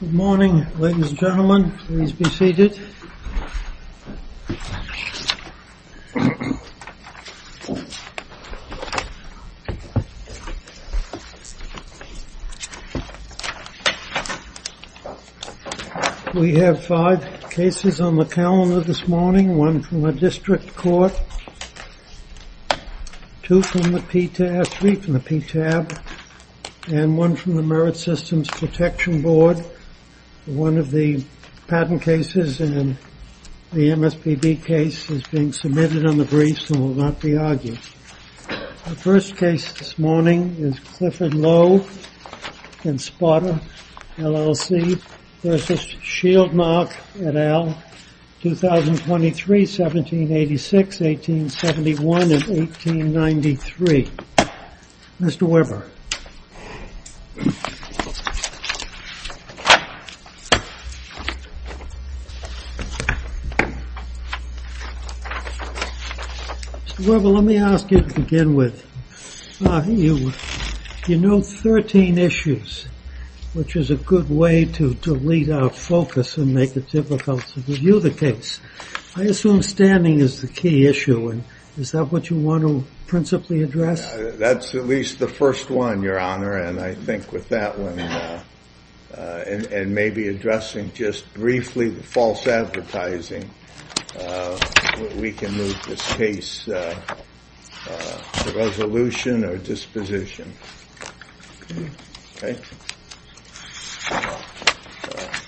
Good morning, ladies and gentlemen. Please be seated. We have five cases on the calendar this morning, one from the district court, two from the PTAB, three from the PTAB, and one from the Merit Systems Protection Board. One of the patent cases and the MSPB case is being submitted on the briefs and will not be argued. The first case this morning is Clifford Lowe v. Shieldmark, LLC, 2023, 1786, 1871, and 1893. Mr. Weber. Mr. Weber, let me ask you to begin with. You note 13 issues, which is a good way to lead our focus and make it difficult to review the case. I assume standing is the key issue, and is that what you want to principally address? That's at least the first one, Your Honor, and I think with that one and maybe addressing just briefly the false advertising, we can move this case to resolution or disposition.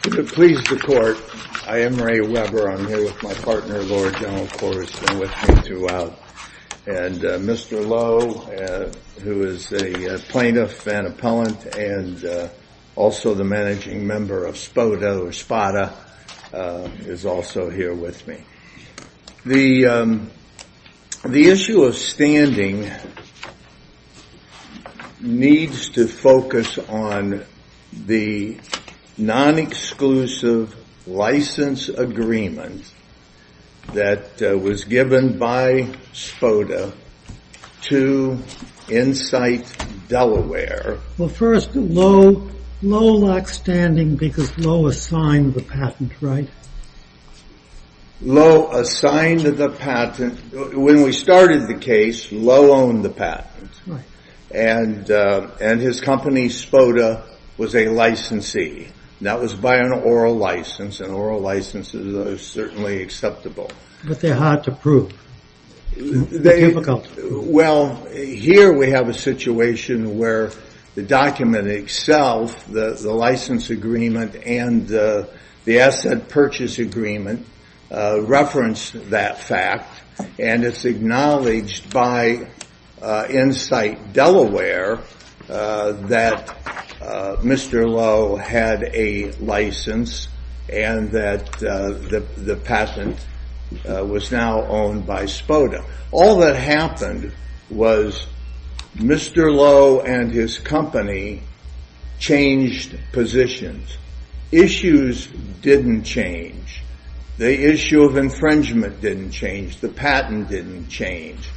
To please the court, I am Ray Weber. I'm here with my partner, Lord General Corriston, with me throughout. And Mr. Lowe, who is a plaintiff and appellant and also the managing member of SPOTA, is also here with me. The issue of standing needs to focus on the non-exclusive license agreement that was given by SPOTA to Insight Delaware. Well, first, Lowe lacks standing because Lowe assigned the patent, right? Lowe assigned the patent. When we started the case, Lowe owned the patent. And his company, SPOTA, was a licensee. That was by an oral license, and oral licenses are certainly acceptable. But they're hard to prove. They're difficult. Well, here we have a situation where the document itself, the license agreement and the asset purchase agreement, reference that fact. And it's acknowledged by Insight Delaware that Mr. Lowe had a license and that the patent was now owned by SPOTA. All that happened was Mr. Lowe and his company changed positions. Issues didn't change. The issue of infringement didn't change. The patent didn't change.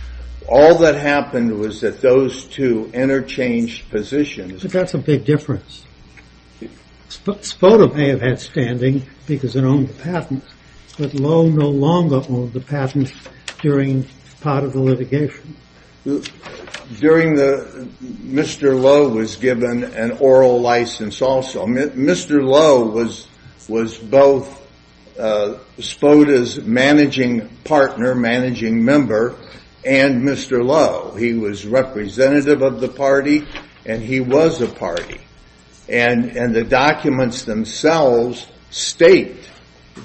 All that happened was that those two interchanged positions. But that's a big difference. SPOTA may have had standing because it owned the patent, but Lowe no longer owned the patent during part of the litigation. Mr. Lowe was given an oral license also. Mr. Lowe was both SPOTA's managing partner, managing member, and Mr. Lowe. He was representative of the party, and he was a party. And the documents themselves state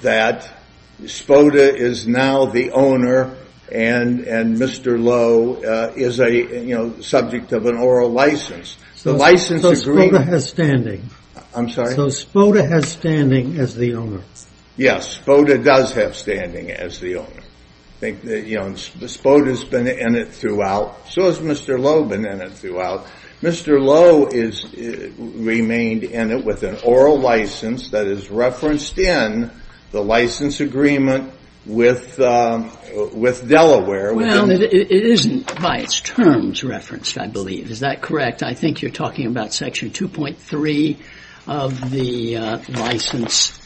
that SPOTA is now the owner, and Mr. Lowe is a subject of an oral license. So SPOTA has standing. I'm sorry? So SPOTA has standing as the owner. Yes, SPOTA does have standing as the owner. SPOTA has been in it throughout. So has Mr. Lowe been in it throughout. Mr. Lowe remained in it with an oral license that is referenced in the license agreement with Delaware. Well, it isn't by its terms referenced, I believe. Is that correct? In fact, I think you're talking about Section 2.3 of the license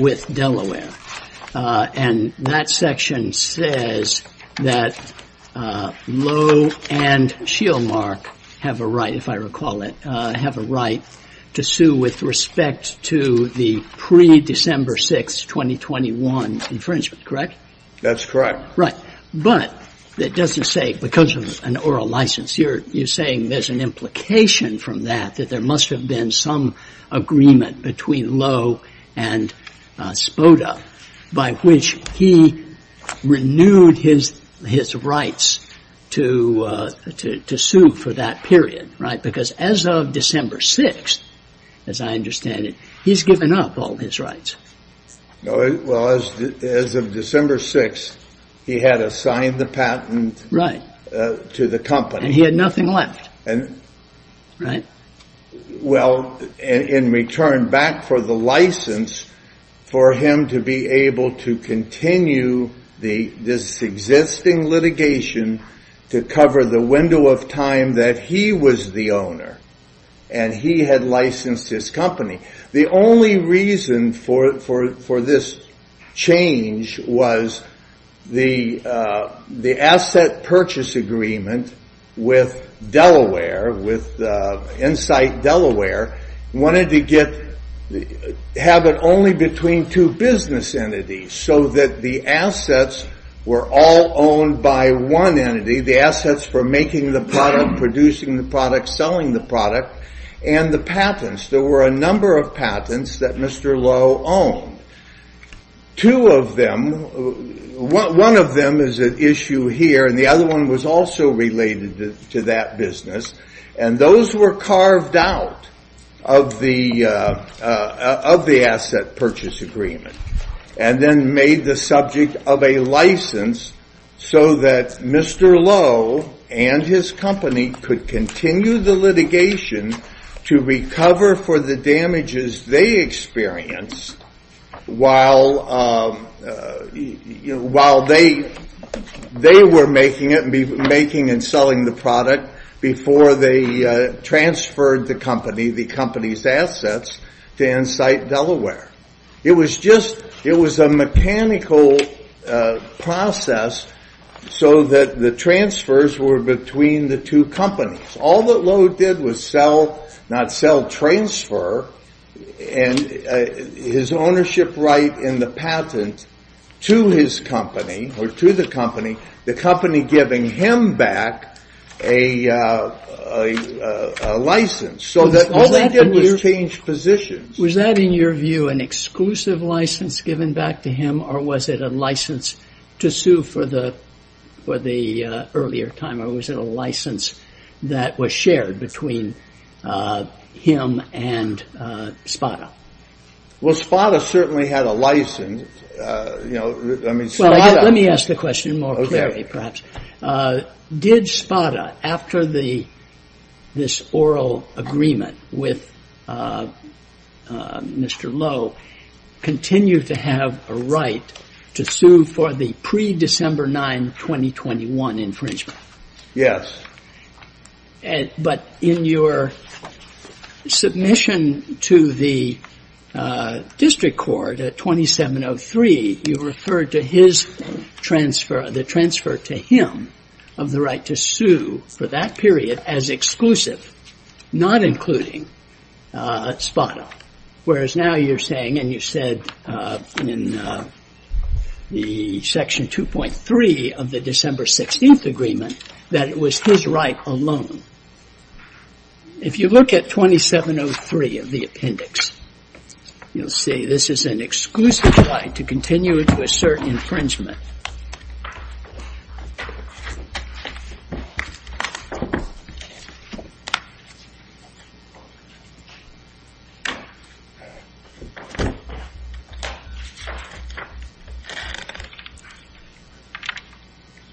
with Delaware. And that section says that Lowe and Shielmark have a right, if I recall it, have a right to sue with respect to the pre-December 6, 2021 infringement, correct? That's correct. Right. But it doesn't say because of an oral license. You're saying there's an implication from that that there must have been some agreement between Lowe and SPOTA by which he renewed his rights to sue for that period. Right. Because as of December 6, as I understand it, he's given up all his rights. Well, as of December 6, he had assigned the patent to the company. And he had nothing left. Well, in return back for the license for him to be able to continue this existing litigation to cover the window of time that he was the owner and he had licensed his company. The only reason for this change was the asset purchase agreement with Delaware, with Insight Delaware, wanted to have it only between two business entities so that the assets were all owned by one entity, the assets for making the product, producing the product, selling the product, and the patents. There were a number of patents that Mr. Lowe owned. Two of them, one of them is at issue here, and the other one was also related to that business. And those were carved out of the asset purchase agreement and then made the subject of a license so that Mr. Lowe and his company could continue the litigation to recover for the damages they experienced while they were making it, making and selling the product, before they transferred the company, the company's assets, to Insight Delaware. It was just, it was a mechanical process so that the transfers were between the two companies. All that Lowe did was sell, not sell, transfer his ownership right in the patent to his company, or to the company, the company giving him back a license so that all they did was change positions. Was that, in your view, an exclusive license given back to him, or was it a license to sue for the earlier time, or was it a license that was shared between him and Spada? Well, Spada certainly had a license. Well, let me ask the question more clearly, perhaps. Did Spada, after this oral agreement with Mr. Lowe, continue to have a right to sue for the pre-December 9, 2021 infringement? Yes. But in your submission to the district court at 2703, you referred to his transfer, the transfer to him of the right to sue for that period as exclusive, not including Spada. Whereas now you're saying, and you said in the section 2.3 of the December 16th agreement, that it was his right alone. If you look at 2703 of the appendix, you'll see this is an exclusive right to continue to assert infringement.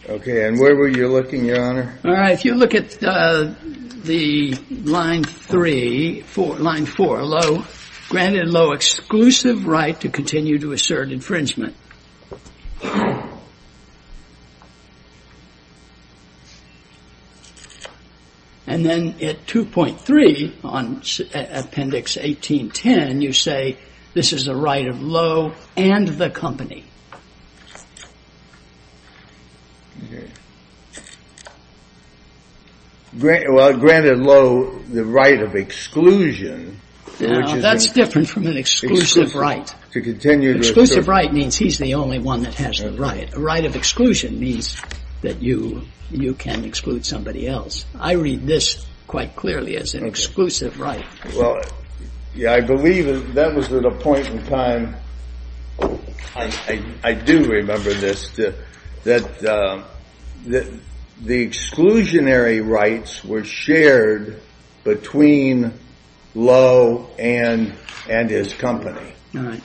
Okay. And where were you looking, Your Honor? All right, if you look at the line 3, line 4, Lowe granted Lowe exclusive right to continue to assert infringement. And then at 2.3 on appendix 1810, you say this is a right of Lowe and the company. Well, granted Lowe the right of exclusion. That's different from an exclusive right. Exclusive right means he's the only one that has the right. A right of exclusion means that you can exclude somebody else. I read this quite clearly as an exclusive right. Well, I believe that was at a point in time, I do remember this, that the exclusionary rights were shared between Lowe and his company. All right.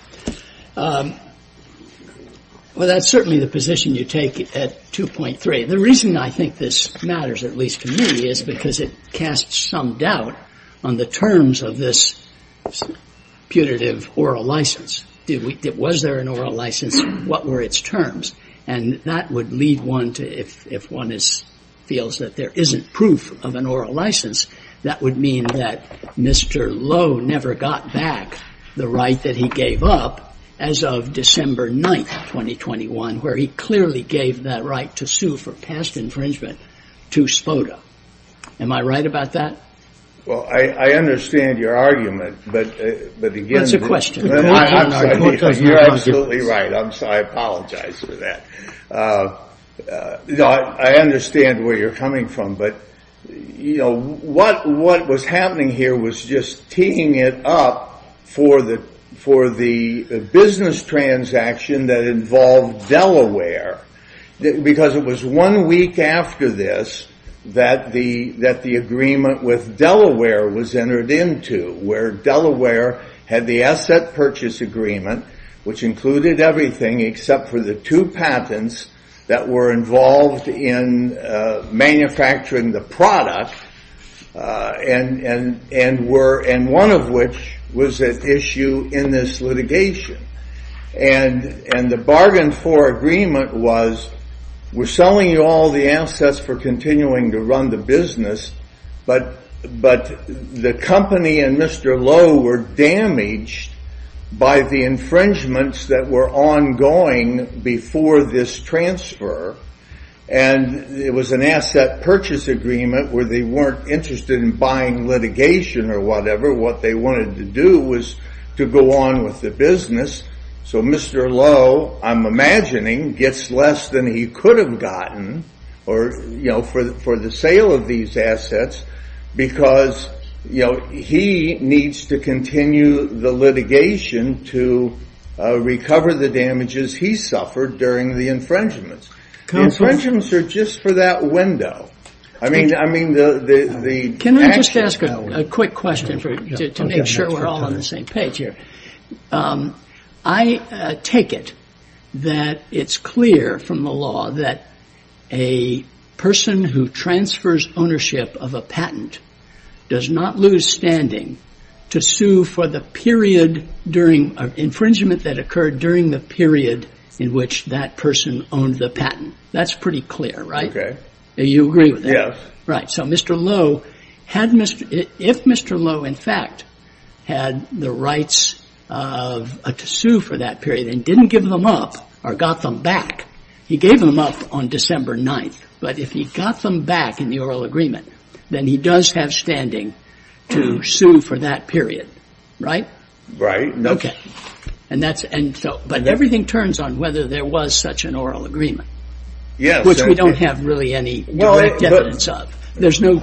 Well, that's certainly the position you take at 2.3. The reason I think this matters, at least to me, is because it casts some doubt on the terms of this putative oral license. Was there an oral license? What were its terms? And that would lead one to, if one feels that there isn't proof of an oral license, that would mean that Mr. Lowe never got back the right that he gave up as of December 9th, 2021, where he clearly gave that right to sue for past infringement to SPOTA. Am I right about that? Well, I understand your argument. That's a question. You're absolutely right. I apologize for that. I understand where you're coming from. But what was happening here was just teeing it up for the business transaction that involved Delaware. Because it was one week after this that the agreement with Delaware was entered into, where Delaware had the asset purchase agreement, which included everything except for the two patents that were involved in manufacturing the product, and one of which was at issue in this litigation. And the bargain for agreement was, we're selling you all the assets for continuing to run the business, but the company and Mr. Lowe were damaged by the infringements that were ongoing before this transfer. And it was an asset purchase agreement where they weren't interested in buying litigation or whatever. What they wanted to do was to go on with the business. So Mr. Lowe, I'm imagining, gets less than he could have gotten for the sale of these assets because he needs to continue the litigation to recover the damages he suffered during the infringements. The infringements are just for that window. Can I just ask a quick question to make sure we're all on the same page here? I take it that it's clear from the law that a person who transfers ownership of a patent does not lose standing to sue for the period of infringement that occurred during the period in which that person owned the patent. That's pretty clear, right? You agree with that? Yes. Right. So Mr. Lowe, if Mr. Lowe, in fact, had the rights to sue for that period and didn't give them up or got them back, he gave them up on December 9th. But if he got them back in the oral agreement, then he does have standing to sue for that period, right? Right. Okay. But everything turns on whether there was such an oral agreement, which we don't have really any direct evidence of. There's no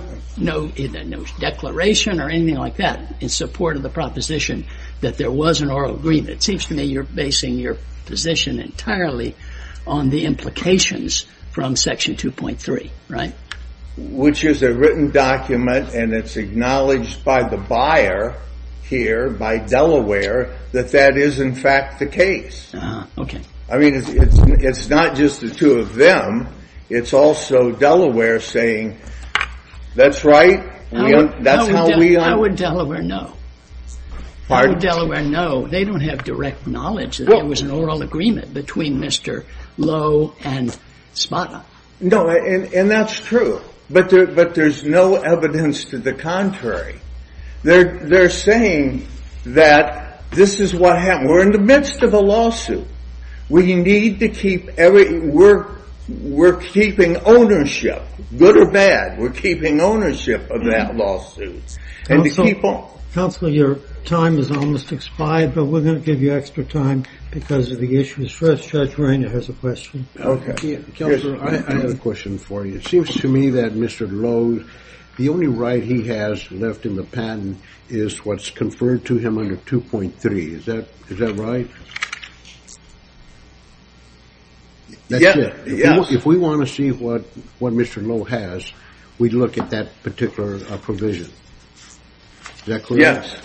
declaration or anything like that in support of the proposition that there was an oral agreement. It seems to me you're basing your position entirely on the implications from Section 2.3, right? Which is a written document, and it's acknowledged by the buyer here, by Delaware, that that is, in fact, the case. Okay. I mean, it's not just the two of them. It's also Delaware saying, that's right. How would Delaware know? Pardon? How would Delaware know? They don't have direct knowledge that there was an oral agreement between Mr. Lowe and Spada. No, and that's true. But there's no evidence to the contrary. They're saying that this is what happened. We're in the midst of a lawsuit. We need to keep everything. We're keeping ownership, good or bad. We're keeping ownership of that lawsuit. Counselor, your time has almost expired, but we're going to give you extra time because of the issues. Judge Rainer has a question. Okay. Counselor, I have a question for you. It seems to me that Mr. Lowe, the only right he has left in the patent is what's conferred to him under 2.3. Is that right? Yes. If we want to see what Mr. Lowe has, we'd look at that particular provision. Is that clear? Yes.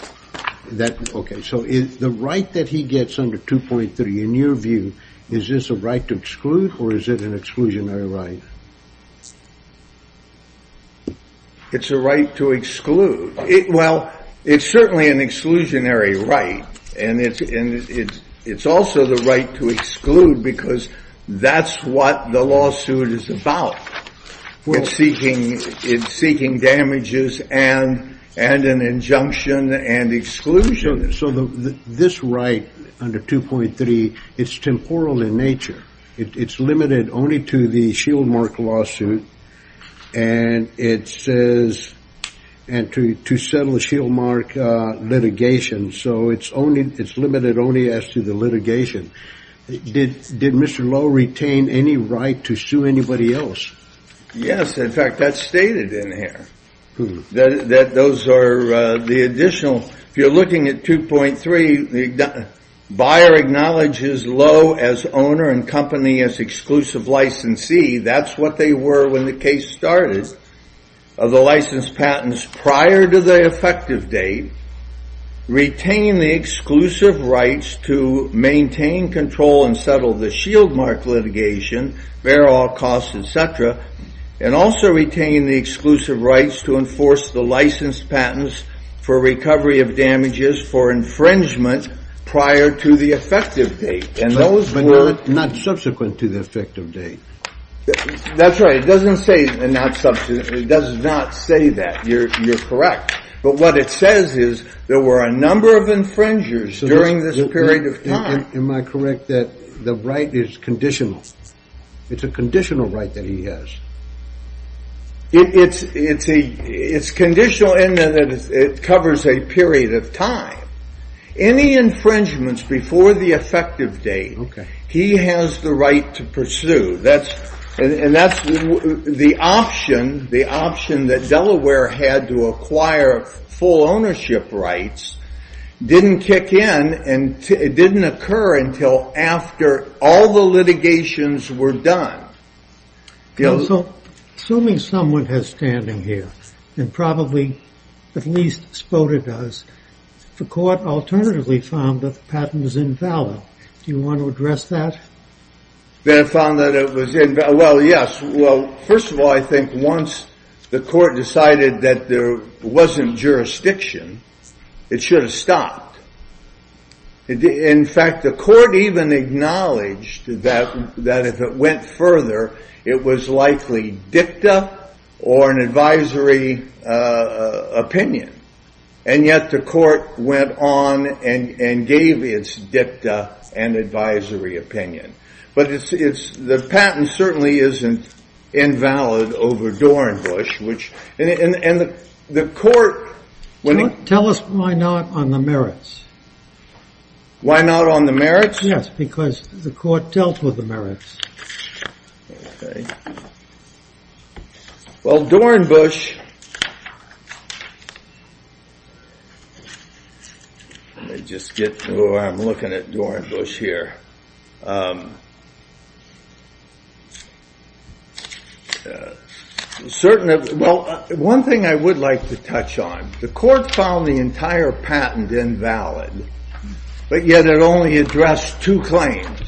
Okay, so the right that he gets under 2.3, in your view, is this a right to exclude or is it an exclusionary right? It's a right to exclude. Well, it's certainly an exclusionary right, and it's also the right to exclude because that's what the lawsuit is about. It's seeking damages and an injunction and exclusion. So this right under 2.3, it's temporal in nature. It's limited only to the Shieldmark lawsuit and to settle the Shieldmark litigation, so it's limited only as to the litigation. Did Mr. Lowe retain any right to sue anybody else? Yes. In fact, that's stated in here, that those are the additional. If you're looking at 2.3, the buyer acknowledges Lowe as owner and company as exclusive licensee. That's what they were when the case started, of the licensed patents prior to the effective date, retaining the exclusive rights to maintain, control, and settle the Shieldmark litigation, bear all costs, etc., and also retaining the exclusive rights to enforce the licensed patents for recovery of damages for infringement prior to the effective date. Those were not subsequent to the effective date. That's right. It doesn't say not subsequent. It does not say that. You're correct. But what it says is there were a number of infringers during this period of time. Am I correct that the right is conditional? It's a conditional right that he has. It's conditional in that it covers a period of time. Any infringements before the effective date, he has the right to pursue. And that's the option, the option that Delaware had to acquire full ownership rights didn't kick in and didn't occur until after all the litigations were done. So assuming someone has standing here, and probably at least Spoda does, the court alternatively found that the patent was invalid. Do you want to address that? They found that it was invalid. Well, yes. Well, first of all, I think once the court decided that there wasn't jurisdiction, it should have stopped. In fact, the court even acknowledged that if it went further, it was likely dicta or an advisory opinion. And yet the court went on and gave its dicta and advisory opinion. But the patent certainly isn't invalid over Dornbusch. Tell us why not on the merits. Why not on the merits? Yes, because the court dealt with the merits. Well, Dornbusch. I'm looking at Dornbusch here. Well, one thing I would like to touch on. The court found the entire patent invalid, but yet it only addressed two claims,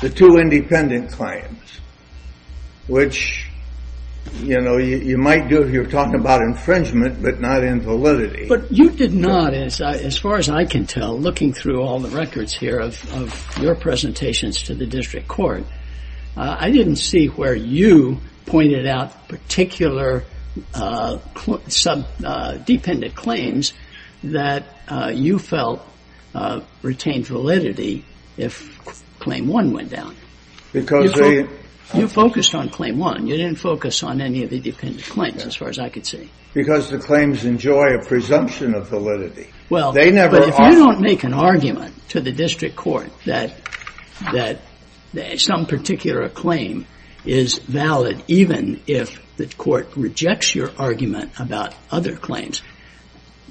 the two independent claims, which, you know, you might do if you're talking about infringement, but not invalidity. But you did not, as far as I can tell, looking through all the records here of your presentations to the district court, I didn't see where you pointed out particular subdependent claims that you felt retained validity if claim one went down. Because they You focused on claim one. You didn't focus on any of the dependent claims, as far as I could see. Because the claims enjoy a presumption of validity. Well, but if you don't make an argument to the district court that some particular claim is valid, even if the court rejects your argument about other claims,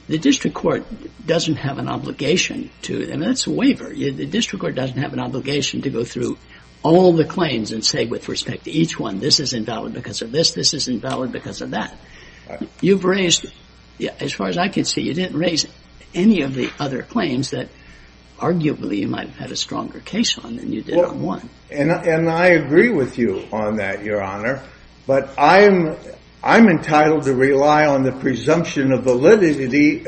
the district court doesn't have an obligation to, and that's a waiver. The district court doesn't have an obligation to go through all the claims and say, with respect to each one, this is invalid because of this, this is invalid because of that. You've raised, as far as I can see, you didn't raise any of the other claims that arguably you might have had a stronger case on than you did on one. And I agree with you on that, Your Honor. But I'm entitled to rely on the presumption of validity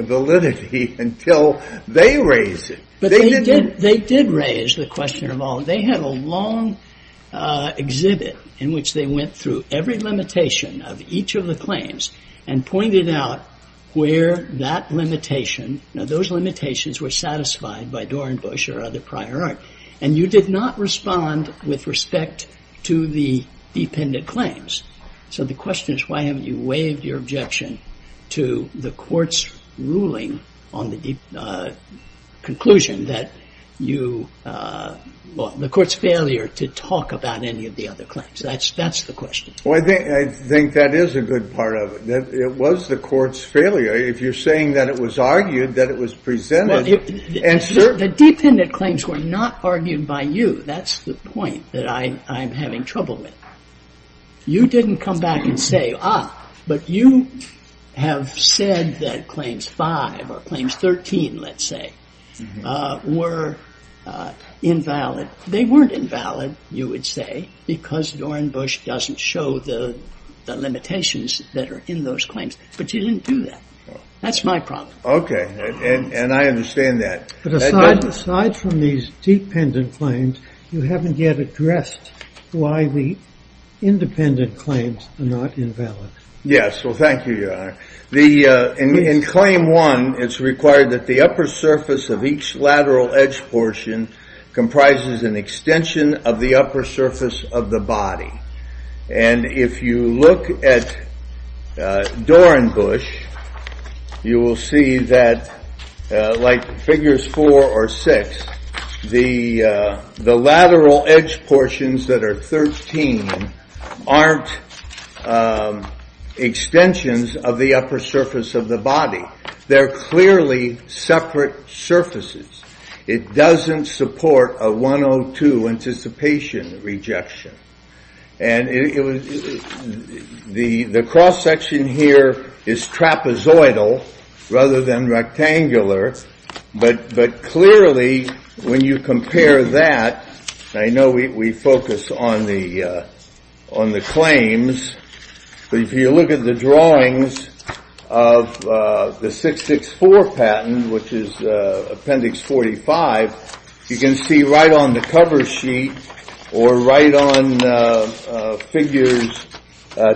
until they raise it. But they did raise the question of all. They had a long exhibit in which they went through every limitation of each of the claims and pointed out where that limitation, now those limitations were satisfied by Dorenbush or other prior art. And you did not respond with respect to the dependent claims. So the question is, why haven't you waived your objection to the court's ruling on the conclusion that you, well, the court's failure to talk about any of the other claims? That's the question. Well, I think that is a good part of it. It was the court's failure. If you're saying that it was argued, that it was presented. The dependent claims were not argued by you. That's the point that I'm having trouble with. You didn't come back and say, ah, but you have said that Claims 5 or Claims 13, let's say, were invalid. They weren't invalid, you would say, because Dorenbush doesn't show the limitations that are in those claims. But you didn't do that. That's my problem. And I understand that. But aside from these dependent claims, you haven't yet addressed why the independent claims are not invalid. Yes, well, thank you, Your Honor. In Claim 1, it's required that the upper surface of each lateral edge portion comprises an extension of the upper surface of the body. And if you look at Dorenbush, you will see that, like Figures 4 or 6, the lateral edge portions that are 13 aren't extensions of the upper surface of the body. They're clearly separate surfaces. It doesn't support a 102 anticipation rejection. And the cross section here is trapezoidal rather than rectangular. But clearly, when you compare that, I know we focus on the claims. But if you look at the drawings of the 664 patent, which is Appendix 45, you can see right on the cover sheet or right on Figures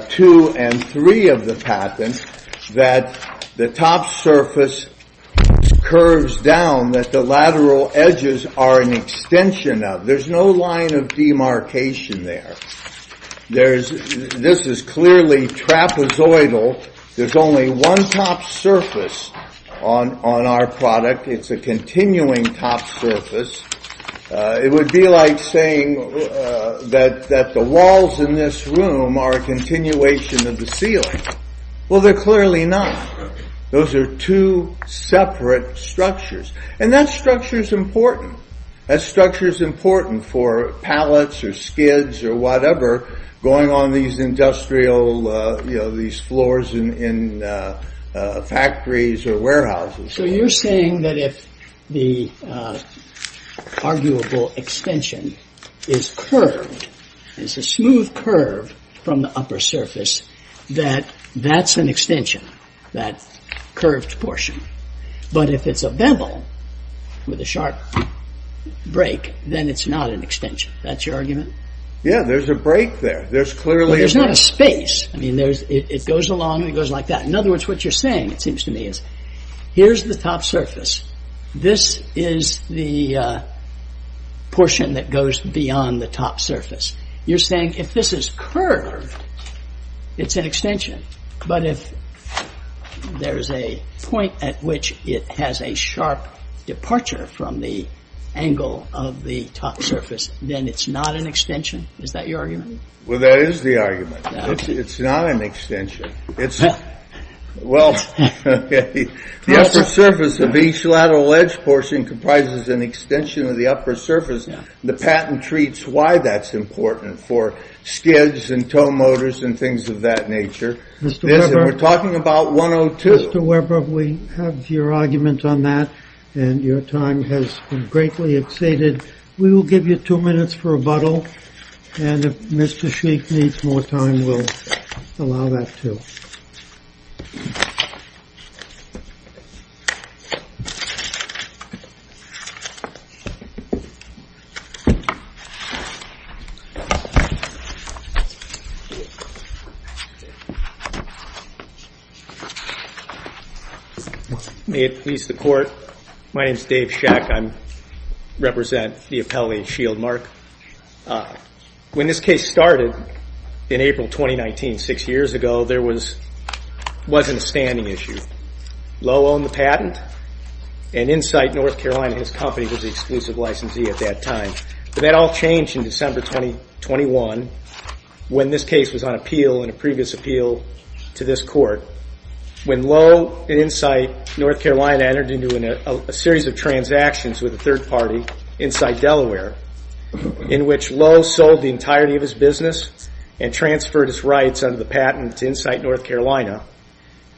2 and 3 of the patent that the top surface curves down that the lateral edges are an extension of. There's no line of demarcation there. This is clearly trapezoidal. There's only one top surface on our product. It's a continuing top surface. It would be like saying that the walls in this room are a continuation of the ceiling. Well, they're clearly not. Those are two separate structures. And that structure is important. That structure is important for pallets or skids or whatever going on these industrial, you know, these floors in factories or warehouses. So you're saying that if the arguable extension is curved, it's a smooth curve from the upper surface, that that's an extension, that curved portion. But if it's a bevel with a sharp break, then it's not an extension. That's your argument? Yeah, there's a break there. There's clearly a break. There's not a space. I mean, it goes along and it goes like that. In other words, what you're saying, it seems to me, is here's the top surface. This is the portion that goes beyond the top surface. You're saying if this is curved, it's an extension. But if there is a point at which it has a sharp departure from the angle of the top surface, then it's not an extension. Is that your argument? Well, that is the argument. It's not an extension. Well, the upper surface of each lateral edge portion comprises an extension of the upper surface. The patent treats why that's important for skids and tow motors and things of that nature. We're talking about 102. Mr. Weber, we have your argument on that. And your time has been greatly exceeded. We will give you two minutes for rebuttal. And if Mr. Sheik needs more time, we'll allow that, too. May it please the Court. My name is Dave Shek. I represent the appellate shield mark. When this case started in April 2019, six years ago, there wasn't a standing issue. Lowe owned the patent. And Insight North Carolina, his company, was the exclusive licensee at that time. But that all changed in December 2021 when this case was on appeal and a previous appeal to this Court. When Lowe and Insight North Carolina entered into a series of transactions with a third party, Insight Delaware, in which Lowe sold the entirety of his business and transferred his rights under the patent to Insight North Carolina,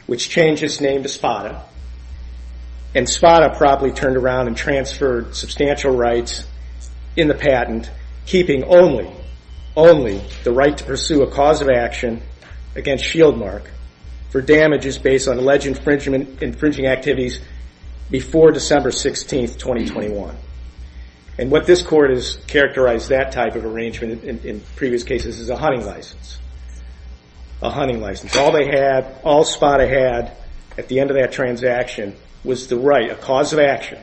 which changed his name to Spada. And Spada probably turned around and transferred substantial rights in the patent, keeping only the right to pursue a cause of action against shield mark for damages based on alleged infringing activities before December 16, 2021. And what this Court has characterized that type of arrangement in previous cases is a hunting license. A hunting license. All they had, all Spada had at the end of that transaction was the right, a cause of action,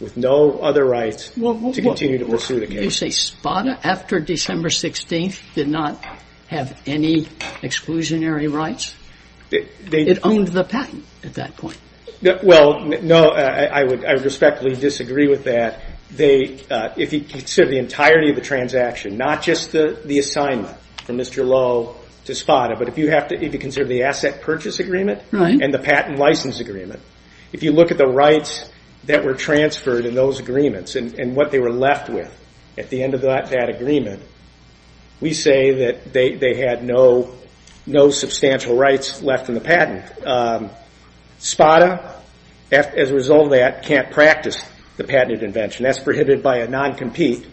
with no other rights to continue to pursue the case. So you say Spada, after December 16, did not have any exclusionary rights? It owned the patent at that point. Well, no, I would respectfully disagree with that. If you consider the entirety of the transaction, not just the assignment from Mr. Lowe to Spada, but if you consider the asset purchase agreement and the patent license agreement, if you look at the rights that were transferred in those agreements and what they were left with at the end of that agreement, we say that they had no substantial rights left in the patent. Spada, as a result of that, can't practice the patented invention. That's prohibited by a non-compete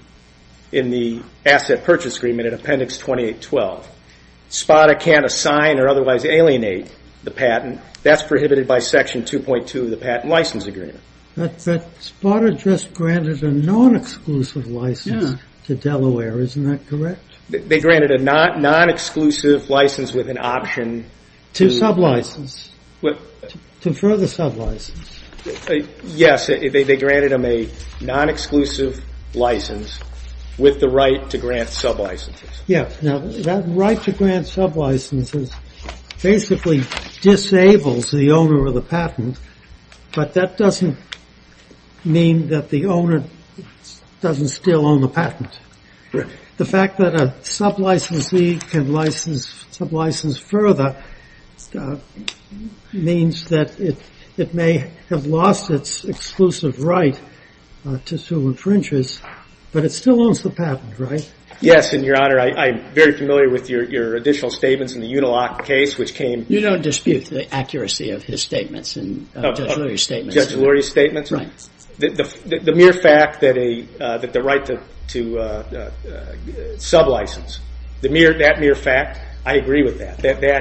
in the asset purchase agreement in Appendix 2812. Spada can't assign or otherwise alienate the patent. And that's prohibited by Section 2.2 of the patent license agreement. But Spada just granted a non-exclusive license to Delaware. Isn't that correct? They granted a non-exclusive license with an option. To sub-license, to further sub-license. Yes, they granted him a non-exclusive license with the right to grant sub-licenses. Yeah. Now, that right to grant sub-licenses basically disables the owner of the patent, but that doesn't mean that the owner doesn't still own the patent. The fact that a sub-licensee can sub-license further means that it may have lost its exclusive right to sue infringers, but it still owns the patent, right? Yes, and, Your Honor, I'm very familiar with your additional statements in the Uniloc case, which came You don't dispute the accuracy of his statements and Judge Lurie's statements. Judge Lurie's statements? Right. The mere fact that the right to sub-license, that mere fact, I agree with that. That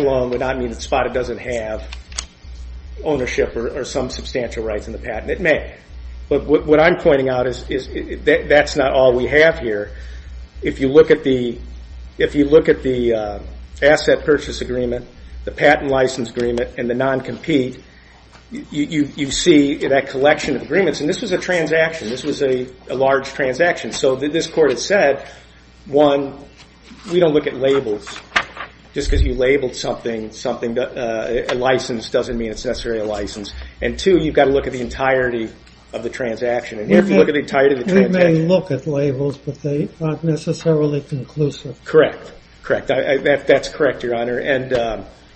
alone would not mean that Spada doesn't have ownership or some substantial rights in the patent. It may, but what I'm pointing out is that's not all we have here. If you look at the asset purchase agreement, the patent license agreement, and the non-compete, you see that collection of agreements. And this was a transaction. This was a large transaction. So this Court has said, one, we don't look at labels. Just because you labeled something a license doesn't mean it's necessarily a license. And, two, you've got to look at the entirety of the transaction. And if you look at the entirety of the transaction We may look at labels, but they aren't necessarily conclusive. Correct. Correct. That's correct, Your Honor.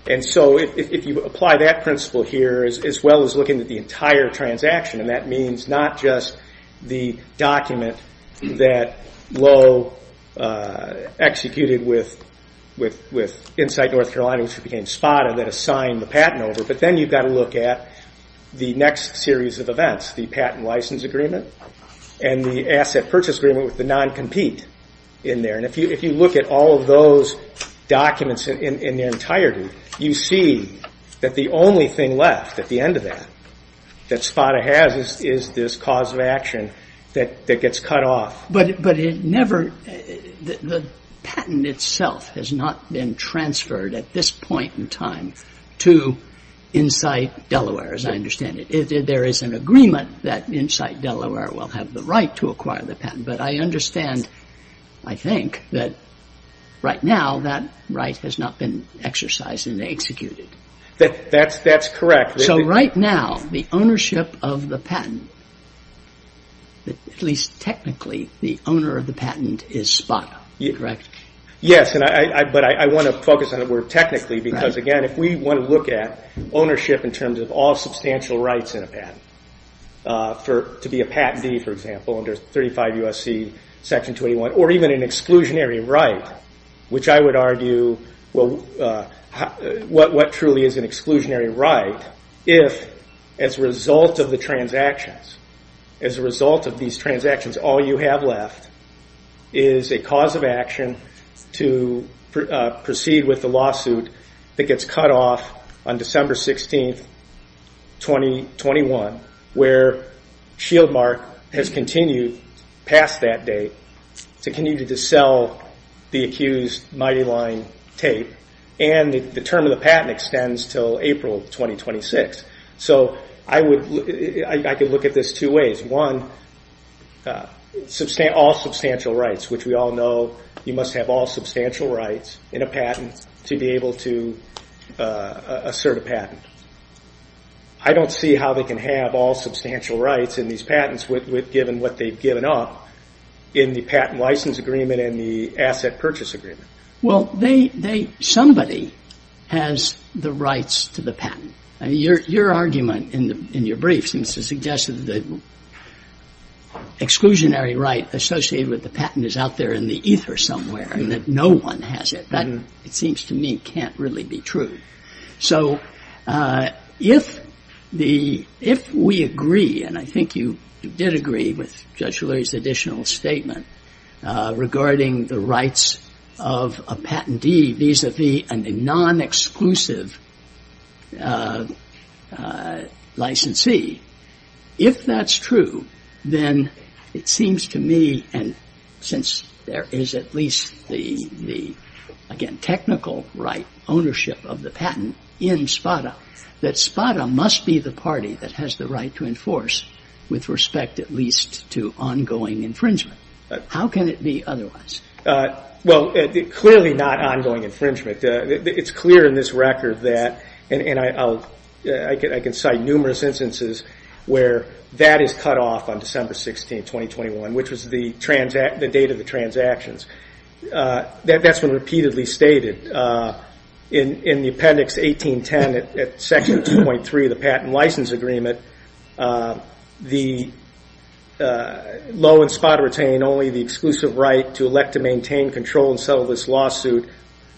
And so if you apply that principle here as well as looking at the entire transaction, and that means not just the document that Lowe executed with Insight North Carolina, which became Spada, that assigned the patent over, but then you've got to look at the next series of events, the patent license agreement and the asset purchase agreement with the non-compete in there. And if you look at all of those documents in their entirety, you see that the only thing left at the end of that that Spada has is this cause of action that gets cut off. But it never the patent itself has not been transferred at this point in time to Insight Delaware, as I understand it. There is an agreement that Insight Delaware will have the right to acquire the patent. But I understand, I think, that right now that right has not been exercised and executed. That's correct. So right now the ownership of the patent, at least technically, the owner of the patent is Spada, correct? Yes, but I want to focus on the word technically because, again, if we want to look at ownership in terms of all substantial rights in a patent, to be a patentee, for example, under 35 U.S.C. Section 21, or even an exclusionary right, which I would argue what truly is an exclusionary right if, as a result of the transactions, as a result of these transactions, all you have left is a cause of action to proceed with the lawsuit that gets cut off on December 16, 2021, where Shieldmark has continued past that date to continue to sell the accused Mighty Line tape, and the term of the patent extends until April 2026. So I could look at this two ways. One, all substantial rights, which we all know you must have all substantial rights in a patent to be able to assert a patent. I don't see how they can have all substantial rights in these patents, given what they've given up in the patent license agreement and the asset purchase agreement. Well, somebody has the rights to the patent. Your argument in your brief seems to suggest that the exclusionary right associated with the patent is out there in the ether somewhere and that no one has it. That, it seems to me, can't really be true. So if we agree, and I think you did agree with Judge O'Leary's additional statement, regarding the rights of a patentee vis-à-vis a non-exclusive licensee, if that's true, then it seems to me, and since there is at least the, again, technical right ownership of the patent in SPADA, that SPADA must be the party that has the right to enforce with respect at least to ongoing infringement. How can it be otherwise? Well, clearly not ongoing infringement. It's clear in this record that, and I can cite numerous instances where that is cut off on December 16, 2021, which was the date of the transactions. That's been repeatedly stated. In the appendix 1810 at section 2.3 of the patent license agreement, the law in SPADA retained only the exclusive right to elect to maintain, control, and settle this lawsuit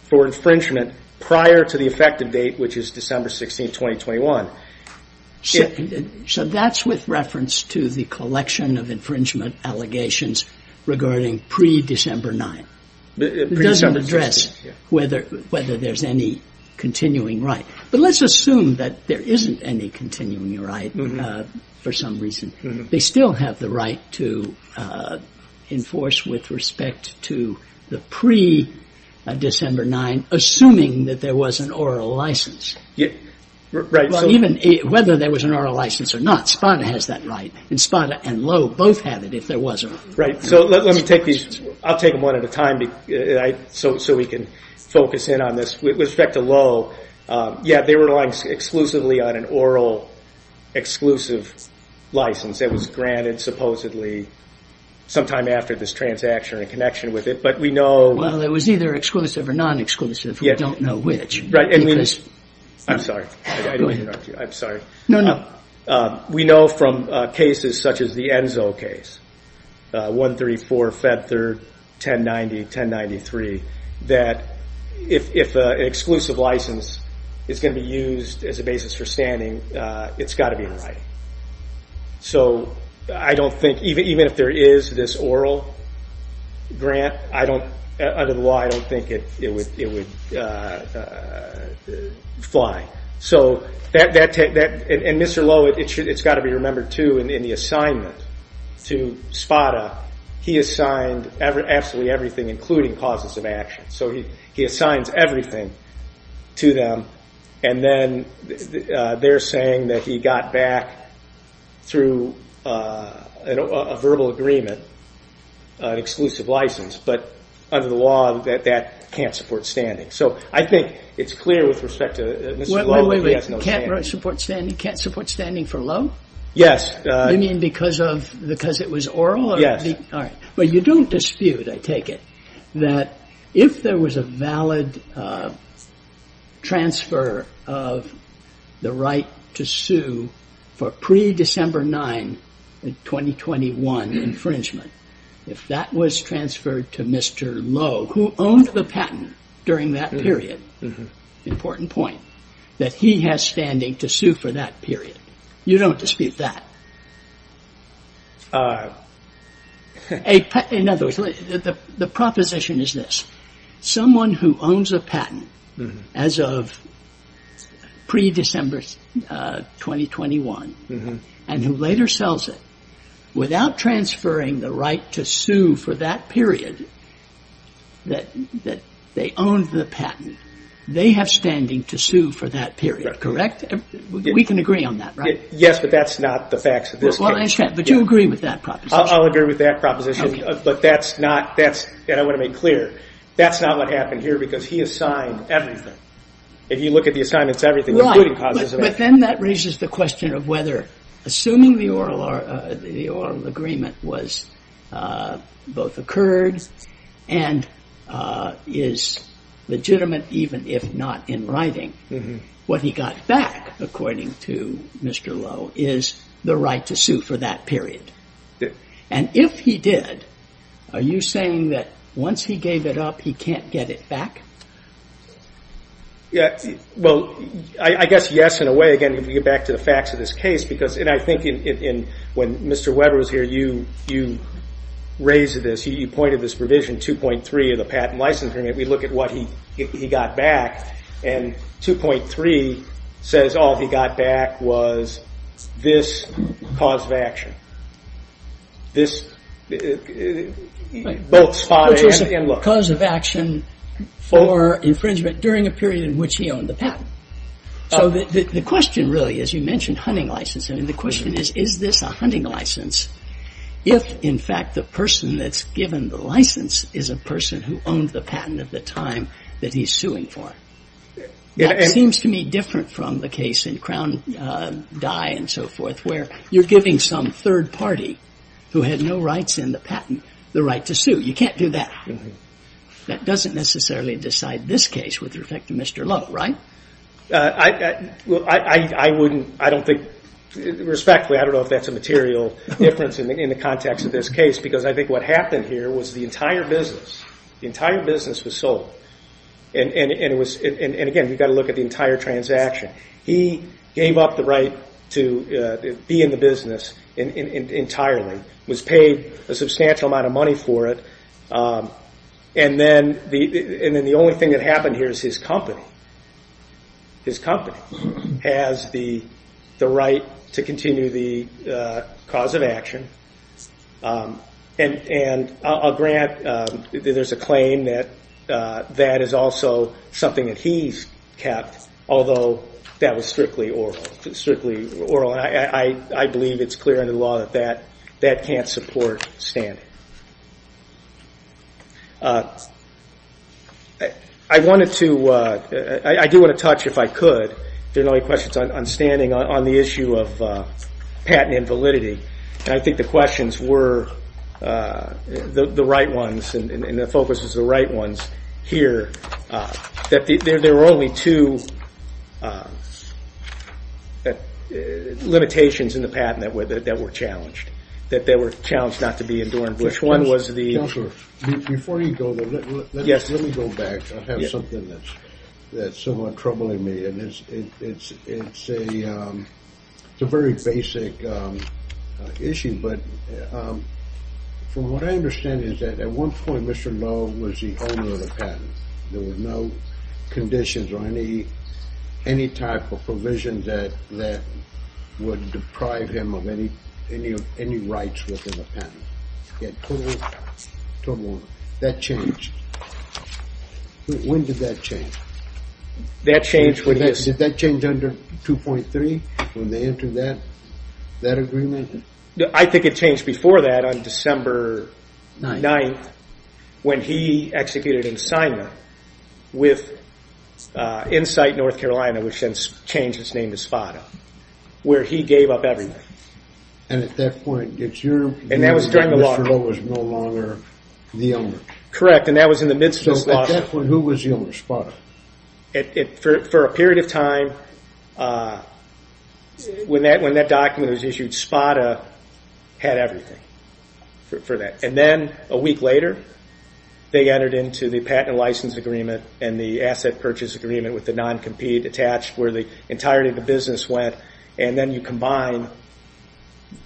for infringement prior to the effective date, which is December 16, 2021. So that's with reference to the collection of infringement allegations regarding pre-December 9. It doesn't address whether there's any continuing right. But let's assume that there isn't any continuing right for some reason. They still have the right to enforce with respect to the pre-December 9, assuming that there was an oral license. Even whether there was an oral license or not, SPADA has that right, and SPADA and Lowe both had it if there wasn't. Right, so let me take these. I'll take them one at a time so we can focus in on this. With respect to Lowe, yeah, they were relying exclusively on an oral exclusive license that was granted supposedly sometime after this transaction and connection with it, but we know. Well, it was either exclusive or non-exclusive. We don't know which. I'm sorry. I don't want to interrupt you. I'm sorry. No, no. We know from cases such as the Enzo case, 134, Fed 3rd, 1090, 1093, that if an exclusive license is going to be used as a basis for standing, it's got to be in writing. So I don't think, even if there is this oral grant, under the law, I don't think it would fly. And Mr. Lowe, it's got to be remembered, too, in the assignment to SPADA, he assigned absolutely everything, including causes of action. So he assigns everything to them, and then they're saying that he got back, through a verbal agreement, an exclusive license. But under the law, that can't support standing. So I think it's clear with respect to Mr. Lowe that he has no standing. Wait, wait, wait. Can't support standing for Lowe? Yes. You mean because it was oral? Yes. All right. But you don't dispute, I take it, that if there was a valid transfer of the right to sue for pre-December 9, 2021 infringement, if that was transferred to Mr. Lowe, who owned the patent during that period, important point, that he has standing to sue for that period. You don't dispute that. In other words, the proposition is this. Someone who owns a patent as of pre-December 2021 and who later sells it, without transferring the right to sue for that period that they owned the patent, they have standing to sue for that period, correct? We can agree on that, right? Yes, but that's not the facts of this case. But you agree with that proposition? I'll agree with that proposition. But that's not, and I want to make clear, that's not what happened here because he assigned everything. If you look at the assignments, everything. Right, but then that raises the question of whether, assuming the oral agreement both occurred and is legitimate even if not in writing, what he got back, according to Mr. Lowe, is the right to sue for that period. And if he did, are you saying that once he gave it up, he can't get it back? Well, I guess yes in a way, again, if we get back to the facts of this case, because I think when Mr. Weber was here, you raised this, you pointed this provision 2.3 of the patent license agreement. We look at what he got back, and 2.3 says all he got back was this cause of action. This, both spot and look. Which is a cause of action for infringement during a period in which he owned the patent. So the question really is, you mentioned hunting license, and the question is, is this a hunting license if, in fact, the person that's given the license is a person who owned the patent at the time that he's suing for it? That seems to me different from the case in Crown Dye and so forth, where you're giving some third party who had no rights in the patent the right to sue. You can't do that. That doesn't necessarily decide this case with respect to Mr. Lowe, right? I wouldn't, I don't think, respectfully, I don't know if that's a material difference in the context of this case, because I think what happened here was the entire business was sold. And again, you've got to look at the entire transaction. He gave up the right to be in the business entirely, was paid a substantial amount of money for it, and then the only thing that happened here is his company. has the right to continue the cause of action. And I'll grant that there's a claim that that is also something that he's kept, although that was strictly oral. I believe it's clear under the law that that can't support standing. I wanted to, I do want to touch, if I could, if there are no questions, on standing on the issue of patent invalidity. And I think the questions were the right ones, and the focus was the right ones here. That there were only two limitations in the patent that were challenged. That they were challenged not to be adorned. Which one was the... Counselor, before you go, let me go back. I have something that's somewhat troubling me, and it's a very basic issue. But from what I understand is that at one point Mr. Love was the owner of the patent. There were no conditions or any type of provision that would deprive him of any rights within the patent. That changed. When did that change? That changed when he was... Did that change under 2.3 when they entered that agreement? I think it changed before that on December 9th when he executed an assignment with Insight North Carolina, which then changed its name to Spada, where he gave up everything. And at that point, did you remember that Mr. Love was no longer the owner? Correct, and that was in the midst of this lawsuit. So at that point, who was the owner, Spada? For a period of time, when that document was issued, Spada had everything for that. And then a week later, they entered into the patent license agreement and the asset purchase agreement with the non-compete attached, where the entirety of the business went. And then you combine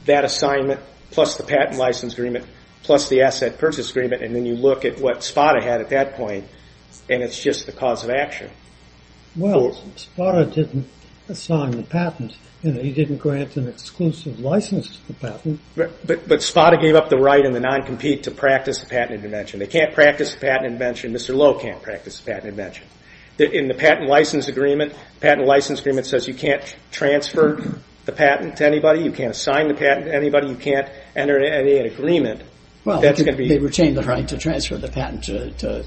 that assignment plus the patent license agreement plus the asset purchase agreement, and then you look at what Spada had at that point, and it's just the cause of action. Well, Spada didn't assign the patent. He didn't grant an exclusive license to the patent. But Spada gave up the right in the non-compete to practice the patent invention. They can't practice the patent invention. Mr. Love can't practice the patent invention. In the patent license agreement, the patent license agreement says you can't transfer the patent to anybody, you can't assign the patent to anybody, you can't enter any agreement. Well, they retained the right to transfer the patent to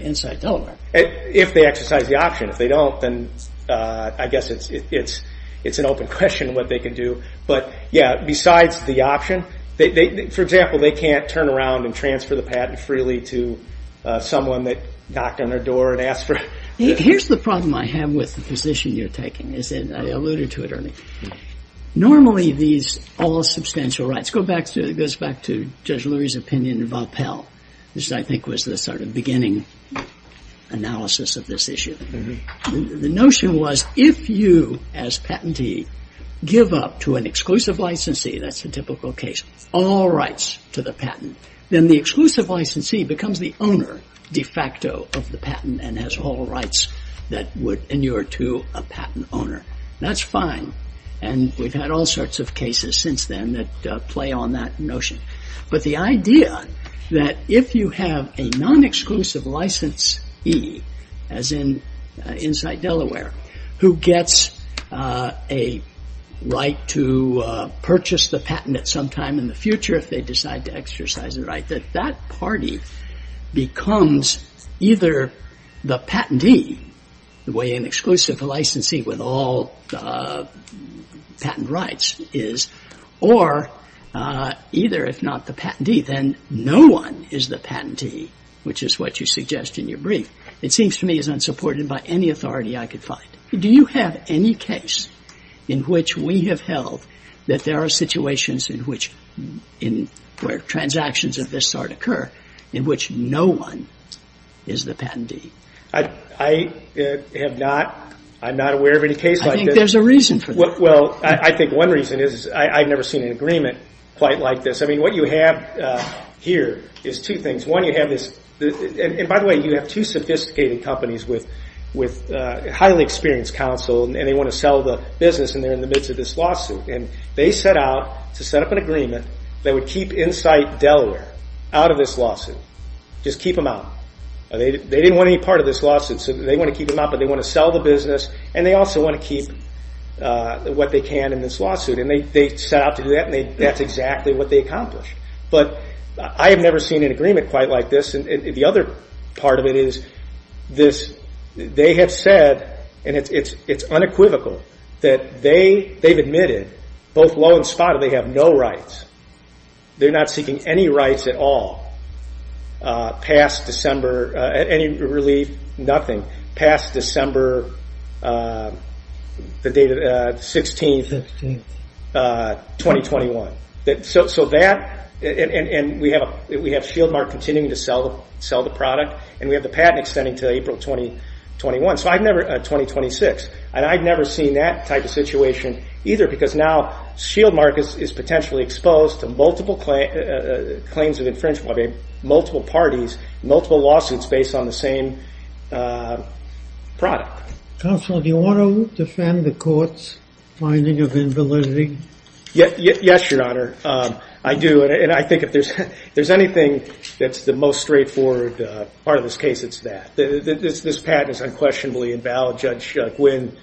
Insight Delaware. If they exercise the option. If they don't, then I guess it's an open question what they can do. But, yeah, besides the option, for example, they can't turn around and transfer the patent freely to someone that knocked on their door and asked for it. Here's the problem I have with the position you're taking. I alluded to it earlier. Normally, these all-substantial rights go back to Judge Lurie's opinion in Valpelle, which I think was the sort of beginning analysis of this issue. The notion was if you, as patentee, give up to an exclusive licensee, that's a typical case, all rights to the patent, then the exclusive licensee becomes the owner de facto of the patent and has all rights that would inure to a patent owner. That's fine, and we've had all sorts of cases since then that play on that notion. But the idea that if you have a non-exclusive licensee, as in Insight Delaware, who gets a right to purchase the patent at some time in the future if they decide to exercise the right, that that party becomes either the patentee, the way an exclusive licensee with all patent rights is, or either, if not the patentee, then no one is the patentee, which is what you suggest in your brief. It seems to me is unsupported by any authority I could find. Do you have any case in which we have held that there are situations in which where transactions of this sort occur in which no one is the patentee? I have not. I'm not aware of any case like this. I think there's a reason for that. Well, I think one reason is I've never seen an agreement quite like this. I mean, what you have here is two things. By the way, you have two sophisticated companies with highly experienced counsel, and they want to sell the business, and they're in the midst of this lawsuit. They set out to set up an agreement that would keep Insight Delaware out of this lawsuit, just keep them out. They didn't want any part of this lawsuit, so they want to keep them out, but they want to sell the business, and they also want to keep what they can in this lawsuit. They set out to do that, and that's exactly what they accomplished. But I have never seen an agreement quite like this. The other part of it is they have said, and it's unequivocal, that they've admitted, both low and spotty, they have no rights. They're not seeking any rights at all past December, any relief, nothing, past December 16th, 2021. So that, and we have Shieldmark continuing to sell the product, and we have the patent extending to April 2021, so I've never, 2026, and I've never seen that type of situation either, because now Shieldmark is potentially exposed to multiple claims of infringement, multiple parties, multiple lawsuits based on the same product. Counsel, do you want to defend the court's finding of invalidity? Yes, Your Honor. I do, and I think if there's anything that's the most straightforward part of this case, it's that. This patent is unquestionably invalid. Judge Gwynne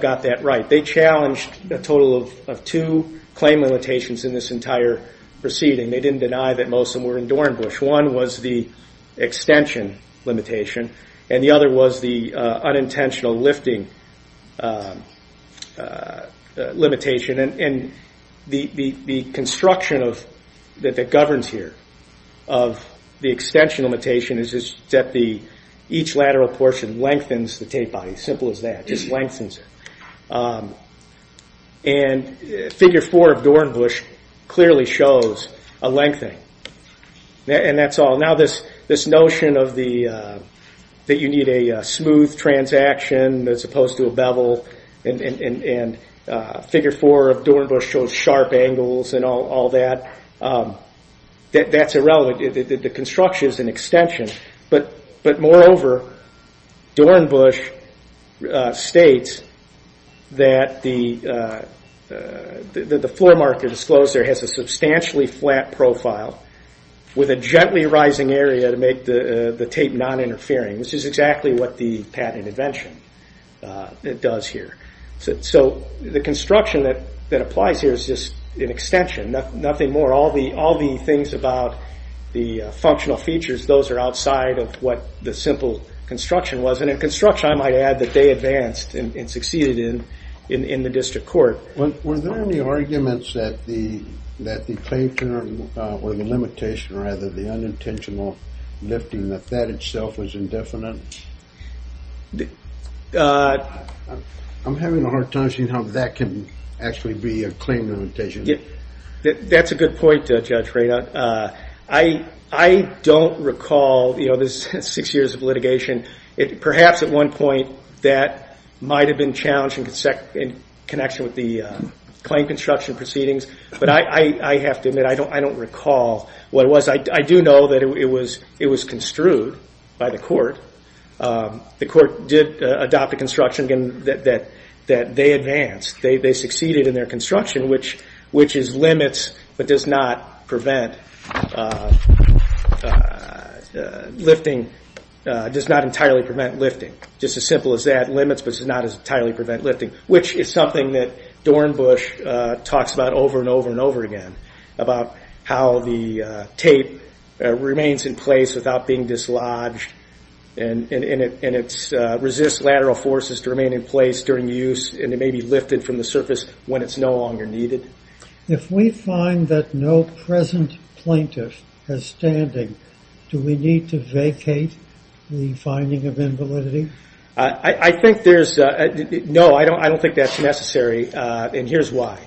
got that right. They challenged a total of two claim limitations in this entire proceeding. They didn't deny that most of them were in Dornbusch. One was the extension limitation, and the other was the unintentional lifting limitation, and the construction that governs here of the extension limitation is that each lateral portion lengthens the tape body, simple as that, just lengthens it. And Figure 4 of Dornbusch clearly shows a lengthening, and that's all. Now this notion that you need a smooth transaction as opposed to a bevel, and Figure 4 of Dornbusch shows sharp angles and all that, that's irrelevant. The construction is an extension. But moreover, Dornbusch states that the floor mark that is closed there has a substantially flat profile with a gently rising area to make the tape non-interfering, which is exactly what the patent invention does here. So the construction that applies here is just an extension, nothing more. All the things about the functional features, those are outside of what the simple construction was. And in construction, I might add, that they advanced and succeeded in the district court. Were there any arguments that the claim term or the limitation or rather the unintentional lifting, that that itself was indefinite? I'm having a hard time seeing how that can actually be a claim limitation. That's a good point, Judge Radon. I don't recall, you know, this six years of litigation, perhaps at one point that might have been challenged in connection with the claim construction proceedings. But I have to admit, I don't recall what it was. I do know that it was construed by the court. The court did adopt a construction that they advanced. They succeeded in their construction, which is limits but does not prevent lifting, does not entirely prevent lifting. Just as simple as that, limits but does not entirely prevent lifting, which is something that Dornbush talks about over and over and over again, about how the tape remains in place without being dislodged and it resists lateral forces to remain in place during use and it may be lifted from the surface when it's no longer needed. If we find that no present plaintiff has standing, do we need to vacate the finding of invalidity? I think there's, no, I don't think that's necessary, and here's why.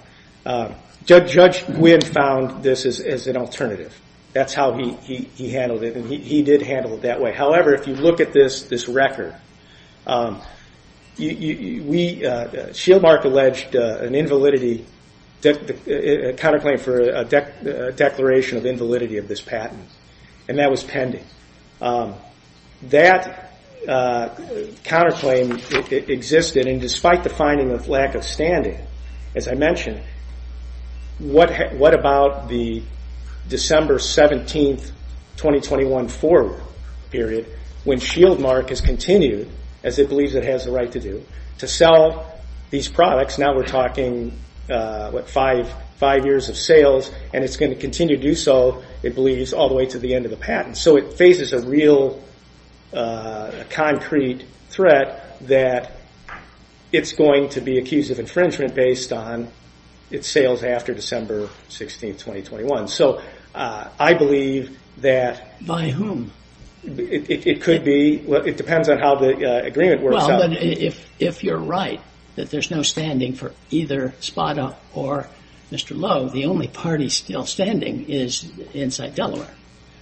Judge Gwynne found this as an alternative. That's how he handled it, and he did handle it that way. However, if you look at this record, Shieldmark alleged a counterclaim for a declaration of invalidity of this patent, and that was pending. That counterclaim existed, and despite the finding of lack of standing, as I mentioned, what about the December 17, 2021 forward period when Shieldmark has continued, as it believes it has the right to do, to sell these products. Now we're talking, what, five years of sales, and it's going to continue to do so, it believes, all the way to the end of the patent. So it faces a real concrete threat that it's going to be accused of infringement based on its sales after December 16, 2021. So I believe that... By whom? It could be, it depends on how the agreement works out. Well, but if you're right, that there's no standing for either Spada or Mr. Lowe, the only party still standing is Inside Delaware.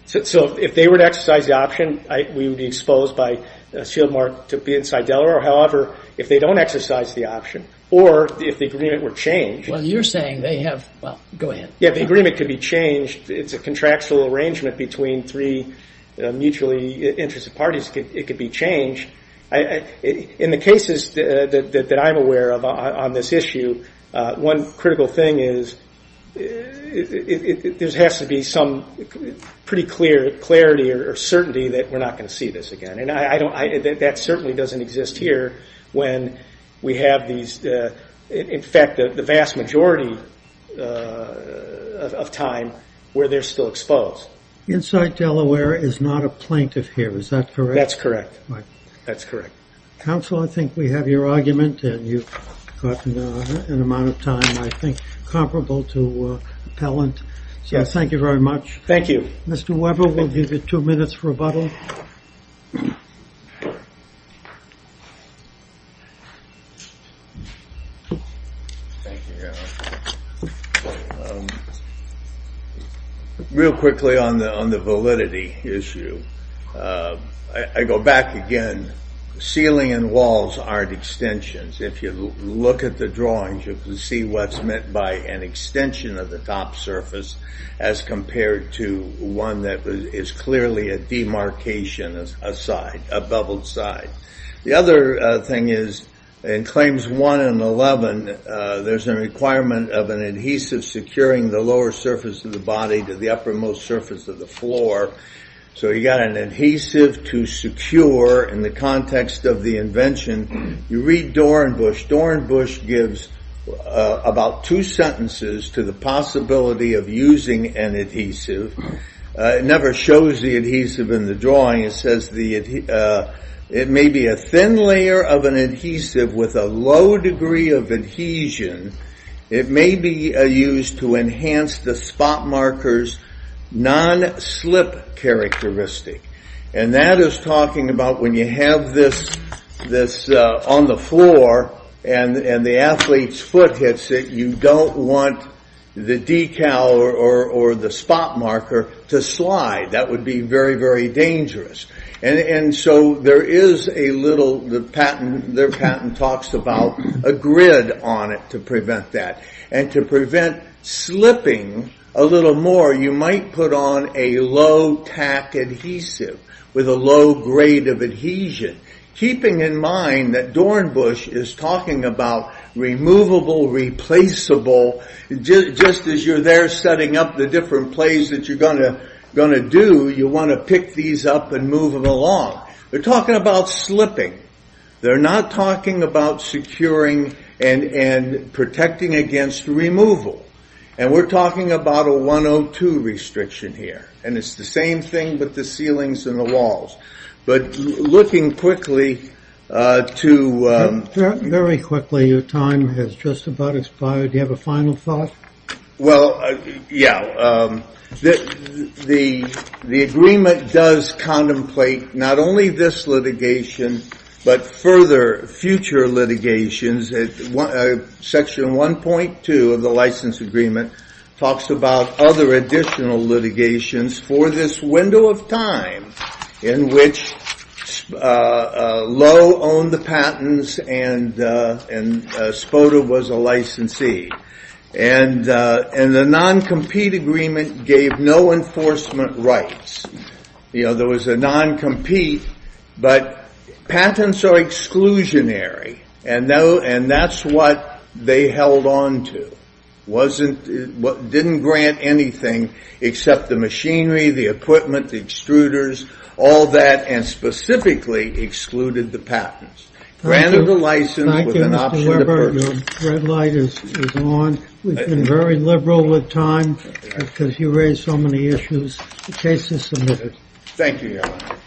So if they were to exercise the option, we would be exposed by Shieldmark to be Inside Delaware. However, if they don't exercise the option, or if the agreement were changed... Well, you're saying they have, well, go ahead. Yeah, the agreement could be changed. It's a contractual arrangement between three mutually interested parties. It could be changed. In the cases that I'm aware of on this issue, one critical thing is there has to be some pretty clear clarity or certainty that we're not going to see this again. And that certainly doesn't exist here when we have these... In fact, the vast majority of time where they're still exposed. Inside Delaware is not a plaintiff here. Is that correct? That's correct. That's correct. Counsel, I think we have your argument, and you've gotten an amount of time, I think, comparable to appellant. So thank you very much. Thank you. Mr. Weber, we'll give you two minutes rebuttal. Real quickly on the validity issue. I go back again. Ceiling and walls aren't extensions. If you look at the drawings, you can see what's meant by an extension of the top surface as compared to one that is clearly a demarcation aside, a beveled side. The other thing is in Claims 1 and 11, there's a requirement of an adhesive securing the lower surface of the body to the uppermost surface of the floor. So you got an adhesive to secure in the context of the invention. You read Dorenbush. Dorenbush gives about two sentences to the possibility of using an adhesive. It never shows the adhesive in the drawing. It says it may be a thin layer of an adhesive with a low degree of adhesion. It may be used to enhance the spot marker's non-slip characteristic. That is talking about when you have this on the floor and the athlete's foot hits it, you don't want the decal or the spot marker to slide. That would be very, very dangerous. So there is a little, their patent talks about a grid on it to prevent that. And to prevent slipping a little more, you might put on a low tack adhesive with a low grade of adhesion. Keeping in mind that Dorenbush is talking about removable, replaceable. Just as you're there setting up the different plays that you're going to do, you want to pick these up and move them along. They're talking about slipping. They're not talking about securing and protecting against removal. And we're talking about a 102 restriction here. And it's the same thing with the ceilings and the walls. But looking quickly to... Very quickly, your time has just about expired. Do you have a final thought? Well, yeah. The agreement does contemplate not only this litigation, but further future litigations. Section 1.2 of the license agreement talks about other additional litigations for this window of time in which Lowe owned the patents and Spoda was a licensee. And the non-compete agreement gave no enforcement rights. You know, there was a non-compete, but patents are exclusionary. And that's what they held on to. Didn't grant anything except the machinery, the equipment, the extruders, all that, and specifically excluded the patents. Thank you, Mr. Weber. Your red light is on. We've been very liberal with time because you raised so many issues. The case is submitted. Thank you, Your Honor.